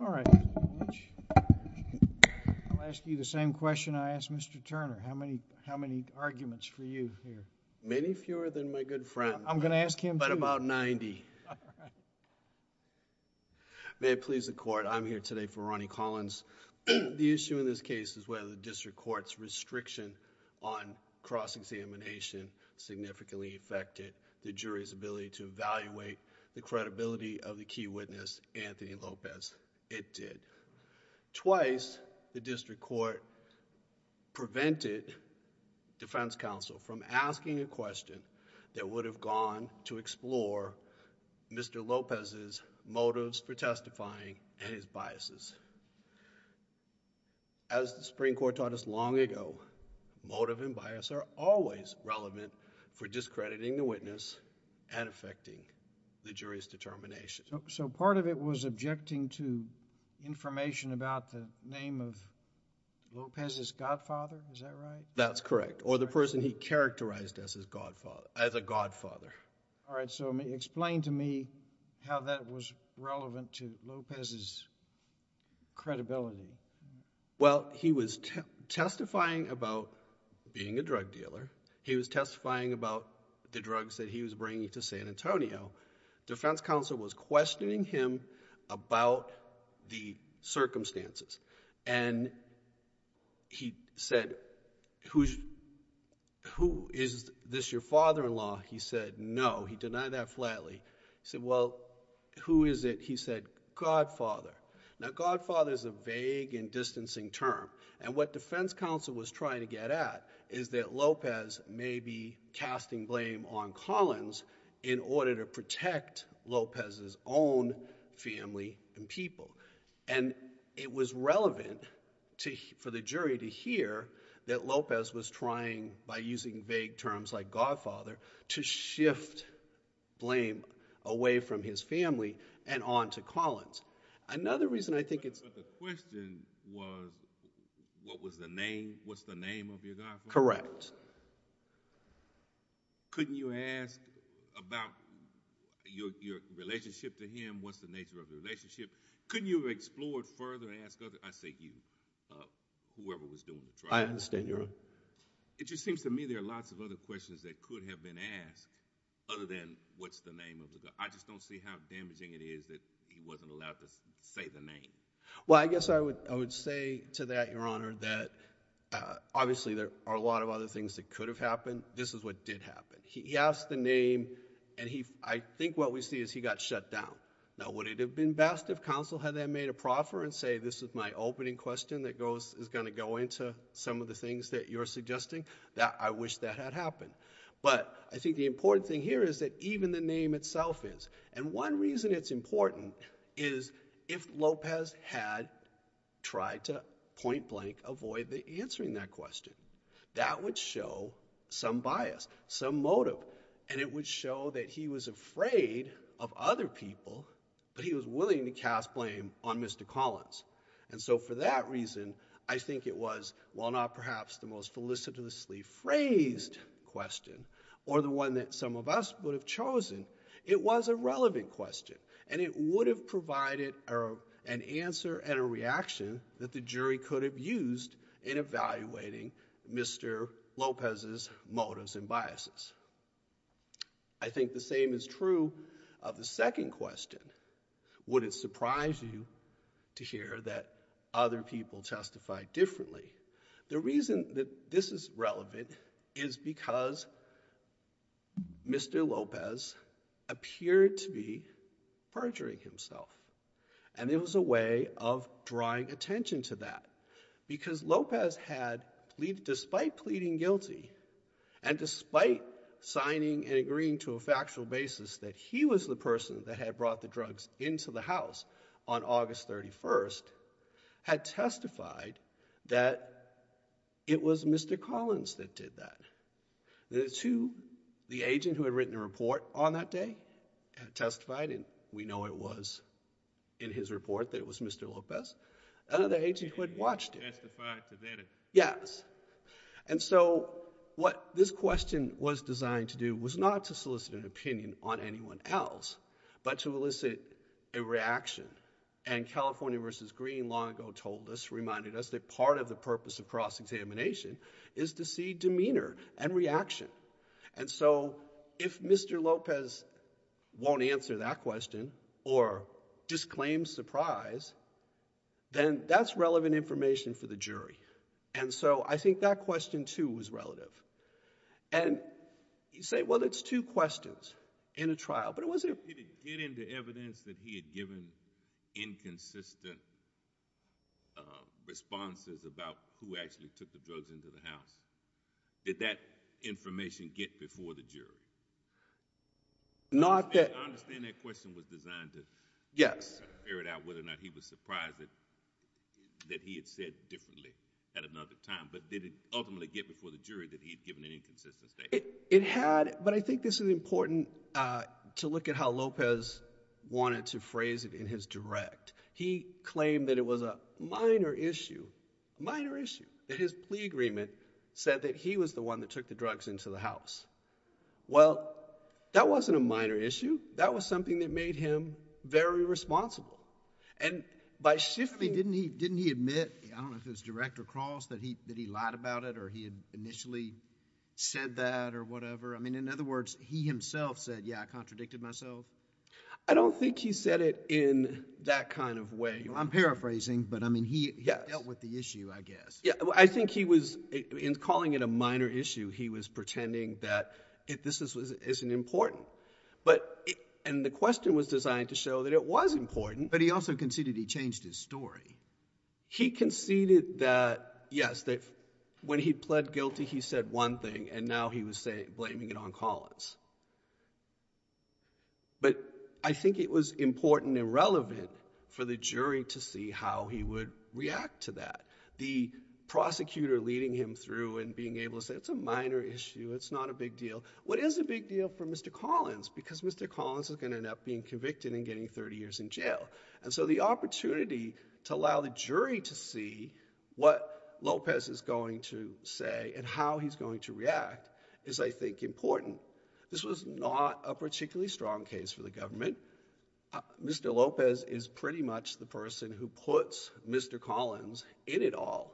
All right. I'll ask you the same question I asked Mr. Turner. How many arguments for a good friend? I'm going to ask him too. But about 90. May it please the court, I'm here today for Ronnie Collins. The issue in this case is whether the district court's restriction on cross-examination significantly affected the jury's ability to evaluate the credibility of the key witness, Anthony Lopez. It did. Twice, the district court prevented defense counsel from asking a question that would have gone to explore Mr. Lopez's motives for testifying and his biases. As the Supreme Court taught us long ago, motive and bias are always relevant for discrediting the witness and affecting the jury's determination. So part of it was objecting to information about the name of Lopez's godfather, is that correct? That's correct. Or the person he characterized as a godfather. All right. So explain to me how that was relevant to Lopez's credibility. Well, he was testifying about being a drug dealer. He was testifying about the drugs that he was bringing to San Antonio. Defense counsel was questioning him about the circumstances. And he said, who is this your father-in-law? He said, no. He denied that flatly. He said, well, who is it? He said, godfather. Now godfather is a vague and distancing term. And what defense counsel was trying to get at is that Lopez may be casting blame on Collins in order to protect Lopez's own family and people. And it was relevant for the jury to hear that Lopez was trying, by using vague terms like godfather, to shift blame away from his family and onto Collins. Another reason I think it's... But the question was, what was the name, what's the name of your godfather? Correct. Couldn't you ask about your relationship to him? What's the nature of the relationship? Couldn't you have explored further and asked other, I say you, whoever was doing the trial? I understand your... It just seems to me there are lots of other questions that could have been asked other than what's the name of the godfather. I just don't see how damaging it is that he wasn't allowed to say the name. Well, I guess I would say to that, your honor, that obviously there are a lot of other things that could have happened. This is what did happen. He asked the name, and I think what we see is he got shut down. Now, would it have been best if counsel had then made a proffer and say, this is my opening question that is going to go into some of the things that you're suggesting? I wish that had happened. But I reason it's important is if Lopez had tried to point blank avoid answering that question, that would show some bias, some motive, and it would show that he was afraid of other people, but he was willing to cast blame on Mr. Collins. And so for that reason, I think it was, well, not perhaps the most felicitously phrased question or the one that some of us would have chosen. It was a relevant question, and it would have provided an answer and a reaction that the jury could have used in evaluating Mr. Lopez's motives and biases. I think the same is true of the second question. Would it surprise you to hear that other people testify differently? The reason that this is relevant is because Mr. Lopez appeared to be perjuring himself, and it was a way of drawing attention to that because Lopez had, despite pleading guilty and despite signing and agreeing to a factual basis that he was the person that had brought the drugs into the house on August 31st, had testified that it was Mr. Collins that did that. The two, the agent who had written a report on that day had testified, and we know it was in his report that it was Mr. Lopez. Another agent who had watched it. Yes. And so what this question was designed to do was not to solicit an opinion on anyone else, but to elicit a reaction. And California versus Green long ago told us, reminded us, that part of the purpose of cross-examination is to see demeanor and reaction. And so if Mr. Lopez won't answer that question or disclaims surprise, then that's relevant information for the jury. And so I think that question too was relative. And you say, well, it's two questions in a trial, but it wasn't. Did it get into evidence that he had given inconsistent responses about who actually took the drugs into the house? Did that information get before the jury? Not that. I understand that question was designed to figure out whether or not he was surprised that he had said differently at another time, but did it ultimately get before the jury that he had given an inconsistent statement? It had, but I think this is important to look at how Lopez wanted to phrase it in his direct. He claimed that it was a minor issue, minor issue, that his plea agreement said that he was the one that took the drugs into the house. Well, that wasn't a minor issue. That was something that made him very responsible. And by shifting... I mean, didn't he admit, I don't know if it was direct or cross, that he lied about it or he had initially said that or whatever? I mean, in other words, he himself said, yeah, I contradicted myself. I don't think he said it in that kind of way. I'm paraphrasing, but I mean, he dealt with the issue, I guess. I think he was, in calling it a minor issue, he was pretending that this isn't important. And the question was designed to show that it was important. But he also conceded he changed his story. He conceded that, yes, that when he pled guilty, he said one thing, and now he was blaming it on Collins. But I think it was important and relevant for the jury to see how he would react to that. The prosecutor leading him through and being able to say it's a minor issue, it's not a big deal. What is a big deal for Mr. Collins? Because Mr. Collins is going to end up being convicted. So to allow the jury to see what Lopez is going to say and how he's going to react is, I think, important. This was not a particularly strong case for the government. Mr. Lopez is pretty much the person who puts Mr. Collins in it all.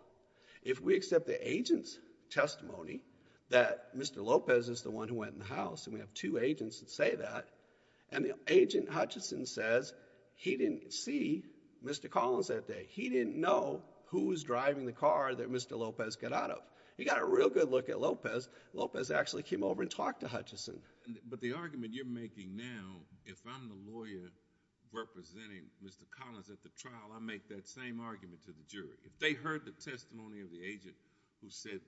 If we accept the agent's testimony that Mr. Lopez is the one who went in the house, and we have two agents that say that, and the agent, Hutchison, says he didn't see Mr. Collins that day. He didn't know who was driving the car that Mr. Lopez got out of. He got a real good look at Lopez. Lopez actually came over and talked to Hutchison. But the argument you're making now, if I'm the lawyer representing Mr. Collins at the trial, I make that same argument to the jury. If they heard the testimony of the agent who said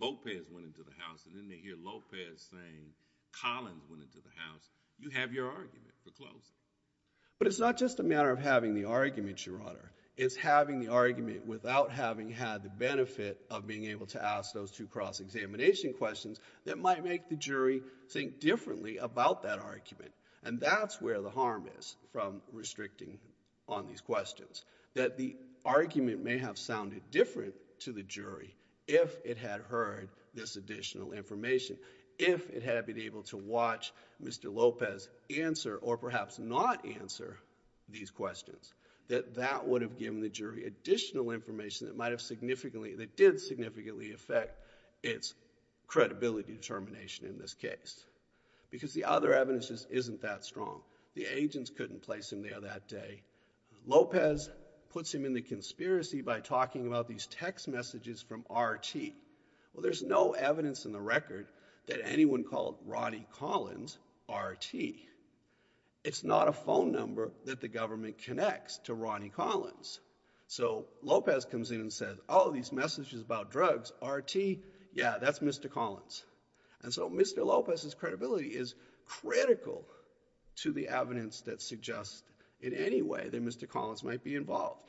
Lopez went into the house, and then they hear Lopez saying Collins went into the house, you have your argument foreclosed. But it's not just a matter of having the argument, Your Honor. It's having the argument without having had the benefit of being able to ask those two cross-examination questions that might make the jury think differently about that argument. And that's where the harm is from restricting on these questions. That the argument may have sounded different to the jury if it had heard this additional information. If it had been able to watch Mr. Lopez answer, or perhaps not answer, these questions. That that would have given the jury additional information that might have significantly, that did significantly affect its credibility determination in this case. Because the other evidence just isn't that strong. The text messages from R.T. Well, there's no evidence in the record that anyone called Ronnie Collins R.T. It's not a phone number that the government connects to Ronnie Collins. So Lopez comes in and says, oh, these messages about drugs, R.T., yeah, that's Mr. Collins. And so Mr. Lopez's credibility is critical to the evidence that suggests in any way that Mr. Collins might be involved.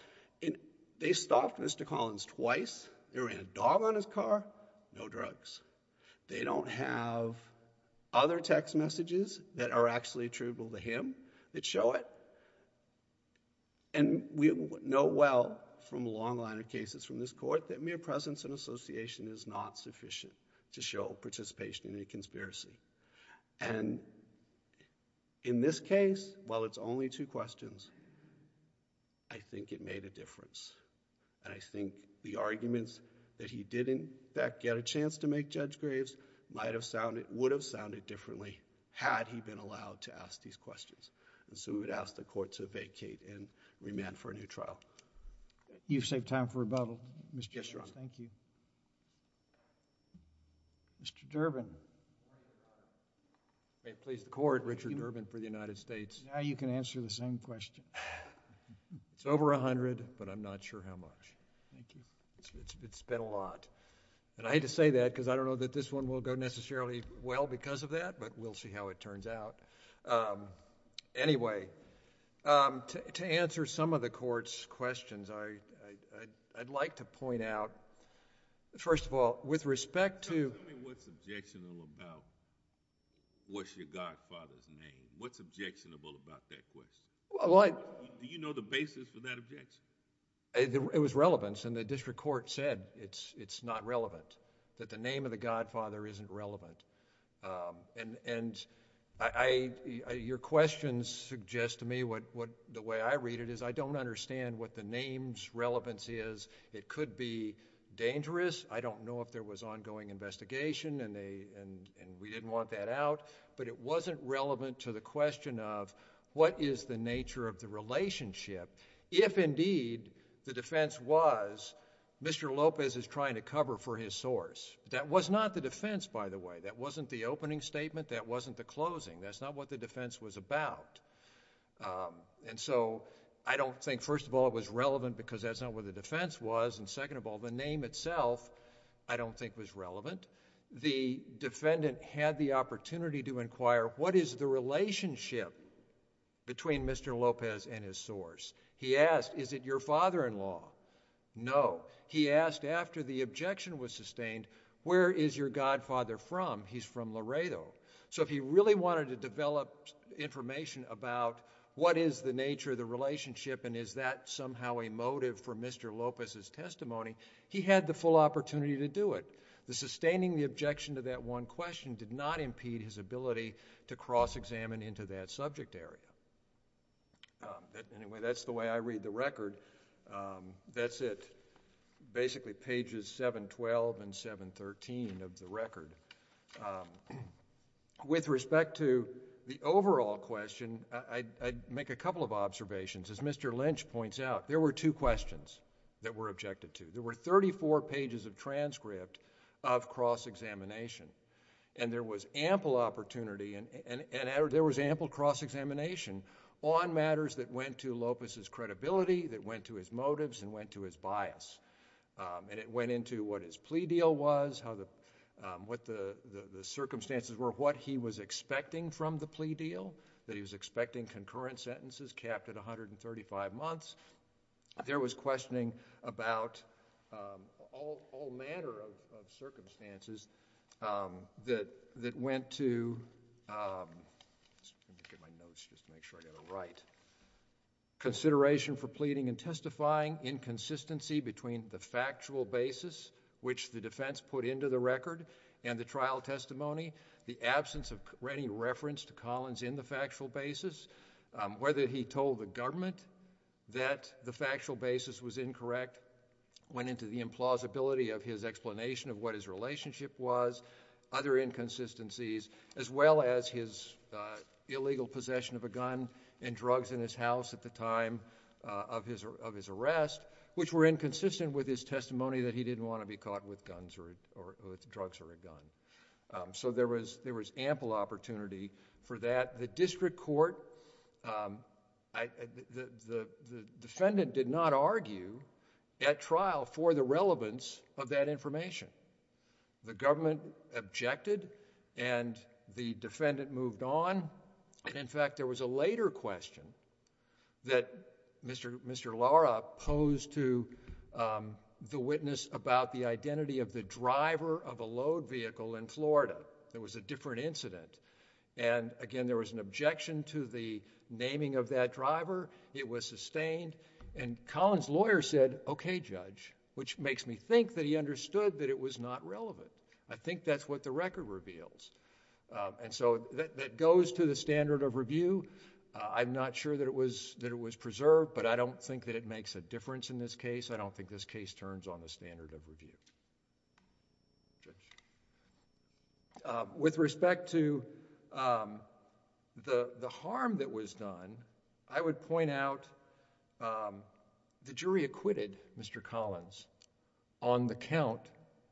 They stopped Mr. Collins twice. They ran a dog on his car. No drugs. They don't have other text messages that are actually attributable to him that show it. And we know well from a long line of cases from this court that mere presence and association is not sufficient to show participation in a conspiracy. And in this case, while it's only two questions, I think it made a difference. And I think the arguments that he did, in fact, get a chance to make Judge Graves might have sounded, would have sounded differently had he been allowed to ask these questions. And so we would ask the court to vacate and remand for a new trial. You've saved time for rebuttal, Mr. Judge. Yes, Your Honor. Thank you. Mr. Durbin. May it please the court, Richard Durbin for the United States. Now you can answer the same question. It's over 100, but I'm not sure how much. Thank you. It's been a lot. And I hate to say that because I don't know that this one will go necessarily well because of that, but we'll see how it turns out. Anyway, to answer some of the court's questions, I'd like to point out, first of all, with respect to— Tell me what's objectionable about what's your godfather's name. What's objectionable about that question? Do you know the basis for that objection? It was relevance, and the district court said it's not relevant, that the name of the godfather isn't relevant. And your questions suggest to me the way I read it is I don't understand what the name's relevance is. It could be dangerous. I don't know if there was ongoing investigation and we didn't want that out, but it wasn't relevant to the question of what is the nature of the relationship. If indeed the defense was Mr. Lopez is trying to cover for his source, that was not the defense, by the way. That wasn't the opening statement. That wasn't the closing. That's not what the defense was about. And so I don't think, first of all, it was relevant because that's not what the defense was, and second of all, the name itself I don't think was relevant. The defendant had the opportunity to inquire what is the relationship between Mr. Lopez and his son-in-law. He asked, is it your father-in-law? No. He asked after the objection was sustained, where is your godfather from? He's from Laredo. So if he really wanted to develop information about what is the nature of the relationship and is that somehow a motive for Mr. Lopez's testimony, he had the full opportunity to do it. The sustaining the objection to that one question did not impede his ability to cross-examine into that subject area. Anyway, that's the way I read the record. That's it. Basically pages 712 and 713 of the record. With respect to the overall question, I'd make a couple of observations. As Mr. Lynch points out, there were two questions that were objected to. There were 34 pages of transcript of cross-examination, and there was ample opportunity and there was ample cross-examination on matters that went to Lopez's credibility, that went to his motives, and went to his bias. And it went into what his plea deal was, what the circumstances were, what he was expecting from the plea deal, that he was expecting concurrent sentences capped at 135 months. There was questioning about all manner of circumstances that went to, let me get my notes just to make sure I got it right, consideration for pleading and testifying, inconsistency between the factual basis which the defense put into the record and the trial testimony, the absence of any reference to Collins in the factual basis, whether he told the government that the factual basis was incorrect, went into the implausibility of his explanation of what his relationship was, other inconsistencies, as well as his illegal possession of a gun and drugs in his house at the time of his arrest, which were inconsistent with his testimony that he didn't want to be for that. The district court... the defendant did not argue at trial for the relevance of that information. The government objected and the defendant moved on. In fact, there was a later question that Mr. Lara posed to the witness about the identity of the driver of a load vehicle in which, again, there was an objection to the naming of that driver. It was sustained and Collins' lawyer said, okay, Judge, which makes me think that he understood that it was not relevant. I think that's what the record reveals. That goes to the standard of review. I'm not sure that it was preserved, but I don't think that it makes a difference in this case. I don't think this case turns on the standard of review. With respect to the harm that was done, I would point out the jury acquitted Mr. Collins on the count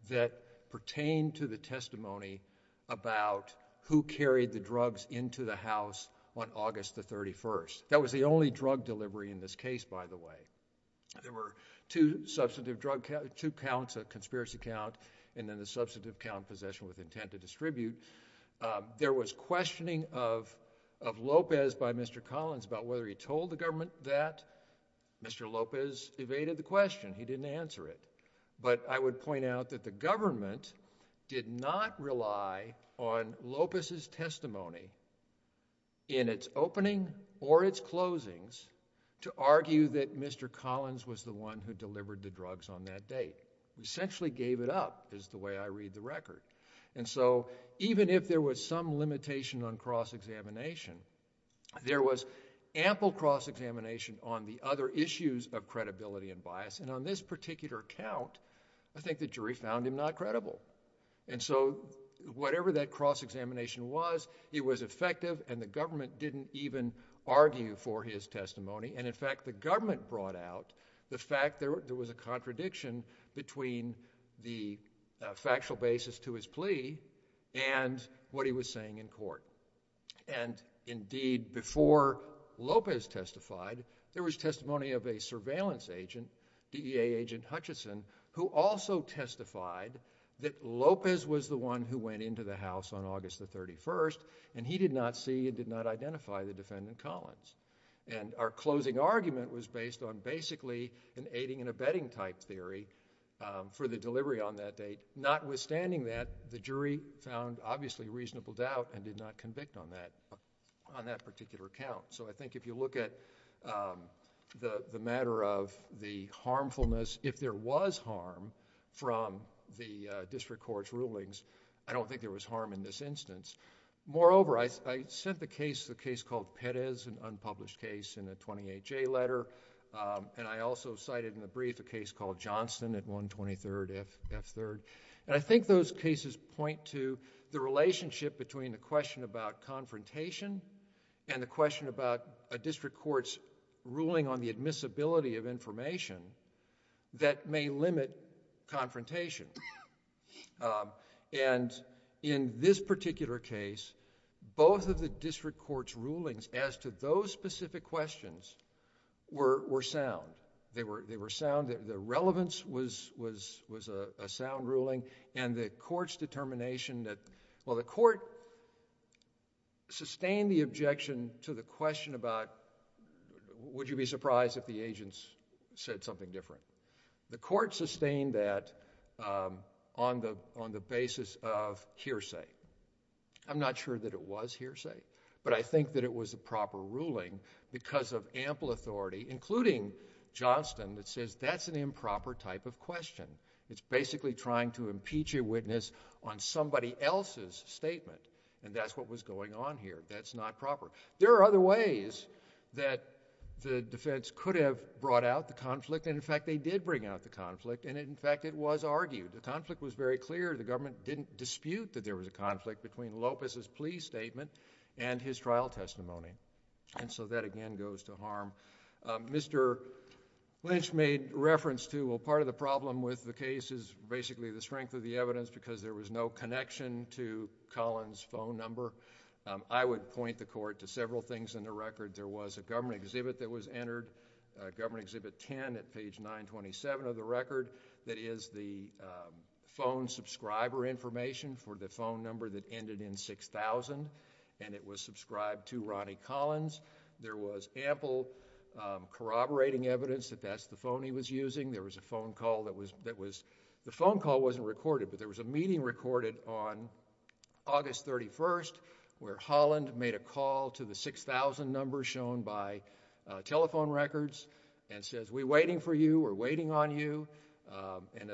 that pertained to the testimony about who carried the drugs into the house on August the 31st. That was the only drug delivery in this case, by the way. There were two substantive drug counts, two counts, a conspiracy count, and then the substantive count possession with intent to distribute. There was questioning of Lopez by Mr. Collins about whether he told the government that. Mr. Lopez evaded the question. He didn't answer it, but I would point out that the government did not rely on Lopez's testimony in its opening or its closings to argue that Mr. Collins was the one who delivered the drugs on that date. He essentially gave it up, is the way I read the record. Even if there was some limitation on cross-examination, there was ample cross-examination on the other issues of credibility and bias. On this particular count, I think the jury found him not credible. And so, whatever that cross-examination was, it was effective and the government didn't even argue for his testimony. And, in fact, the government brought out the fact there was a contradiction between the factual basis to his plea and what he was saying in court. And, indeed, before Lopez testified, there was testimony of a surveillance agent, DEA Agent Hutchison, who also testified that Lopez was the one who went into the house on August the 31st, and he did not see and did not identify the defendant, Collins. And our closing argument was based on basically an aiding and abetting type theory for the delivery on that date. Notwithstanding that, the jury found, obviously, reasonable doubt and did not convict on that particular count. So, I think if you look at the matter of the harmfulness, if there was harm from the district court's rulings, I don't think there was harm in this instance. Moreover, I sent the case, a case called Perez, an unpublished case, in a 28-J letter, and I also cited in the brief a case called Johnston at 123rd F3rd. And I think those point to the relationship between the question about confrontation and the question about a district court's ruling on the admissibility of information that may limit confrontation. And in this particular case, both of the district court's rulings as to those specific questions were sound. They were sound. The relevance was a sound ruling, and the court's determination that, well, the court sustained the objection to the question about, would you be surprised if the agents said something different? The court sustained that on the basis of hearsay. I'm not sure that it was hearsay, but I think that it was a proper ruling because of ample authority, including Johnston, that says that's an improper type of question. It's basically trying to impeach a witness on somebody else's statement, and that's what was going on here. That's not proper. There are other ways that the defense could have brought out the conflict, and in fact, they did bring out the conflict, and in fact, it was argued. The conflict was very clear. The government didn't dispute that there was a conflict between Lopez's plea and his trial testimony, and so that, again, goes to harm. Mr. Lynch made reference to, well, part of the problem with the case is basically the strength of the evidence because there was no connection to Collins' phone number. I would point the court to several things in the record. There was a government exhibit that was entered, government exhibit 10 at page 927 of the record, that is the phone subscriber information for the phone number that ended in 6,000, and it was subscribed to Ronnie Collins. There was ample corroborating evidence that that's the phone he was using. There was a phone call that was... The phone call wasn't recorded, but there was a meeting recorded on August 31st where Holland made a call to the 6,000 number shown by telephone records and says, we're waiting for you, we're waiting on you, and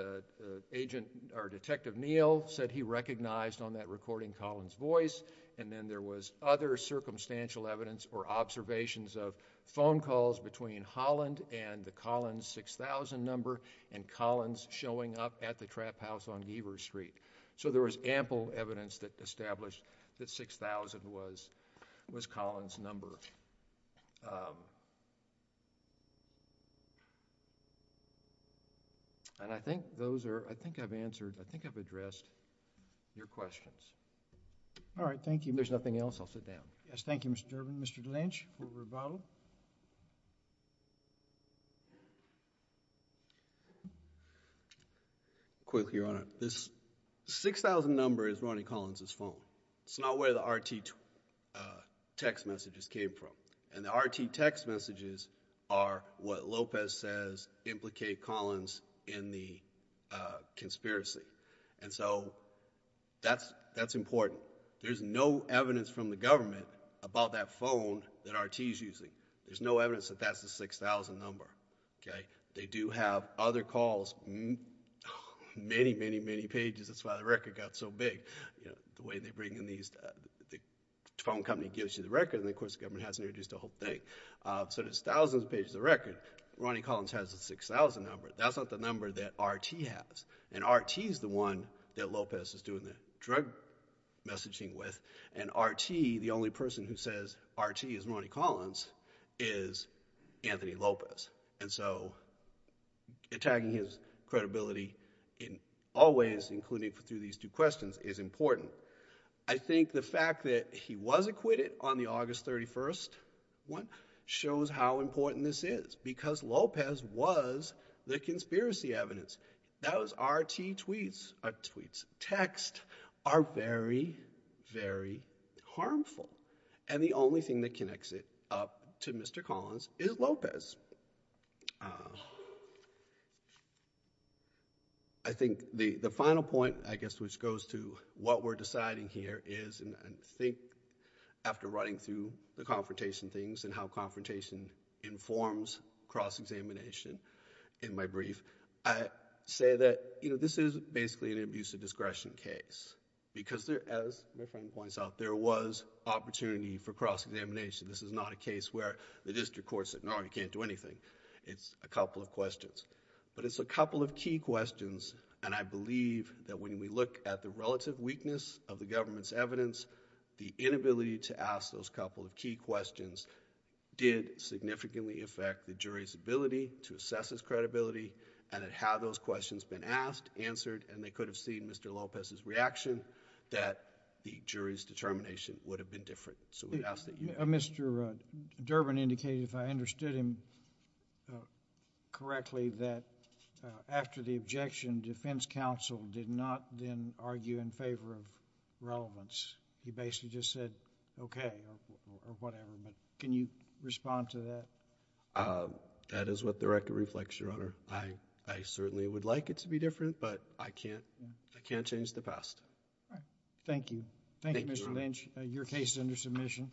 agent or Detective Neal said he recognized on that recording Collins' voice, and then there was other circumstantial evidence or observations of phone calls between Holland and the Collins' 6,000 number and Collins' showing up at the trap house on Geaver Street. So there was ample evidence that established that 6,000 was Collins' number. And I think those are, I think I've answered, I think I've addressed your questions. All right, thank you. If there's nothing else, I'll sit down. Yes, thank you, Mr. Durbin. Mr. Lynch for rebuttal. Quick, Your Honor. This 6,000 number is Ronnie Collins' phone. It's not where the RT text messages came from. And the RT text messages are what Lopez says implicate Collins in the conspiracy. And so that's important. There's no evidence from the government about that phone that RT is using. There's no evidence that that's the 6,000 number, okay? They do have other calls, many, many, many pages. That's why the record got so big. You know, the way they bring in these, the phone company gives you the record, and of course the government hasn't introduced a whole thing. So there's thousands of pages of record. Ronnie Collins has a 6,000 number. That's not the number that RT has. And RT is the one that Lopez is doing the drug messaging with. And RT, the only person who says RT is Ronnie Collins, is Anthony Lopez. And so attacking his credibility in all ways, including through these two questions, is important. I think the fact that he was acquitted on the August 31st one shows how important this is, because Lopez was the conspiracy evidence. Those RT tweets, or tweets, text, are very, very harmful. And the only thing that connects it up to Mr. Collins is Lopez. I think the final point, I guess, which goes to what we're deciding here is, and I think after running through the confrontation things and how confrontation informs cross-examination in my brief, I say that, you know, this is basically an abuse of discretion case. Because as my friend points out, there was opportunity for cross-examination. This is not a case where the district court said, no, you can't do anything. It's a couple of questions. But it's a couple of key questions, and I believe that when we look at the relative weakness of the government's evidence, the inability to ask those couple of key questions did significantly affect the jury's ability to assess his credibility, and had those questions been asked, answered, and they could have seen Mr. Lopez's reaction, that the jury's determination would have been different. So we ask that you... Mr. Durbin indicated, if I understood him correctly, that after the objection, defense counsel did not then argue in favor of relevance. He basically just said, okay, or whatever. But can you respond to that? That is what the record reflects, Your Honor. I certainly would like it to be different, but I can't change the past. Thank you. Thank you, Mr. Lynch. Your case is under submission.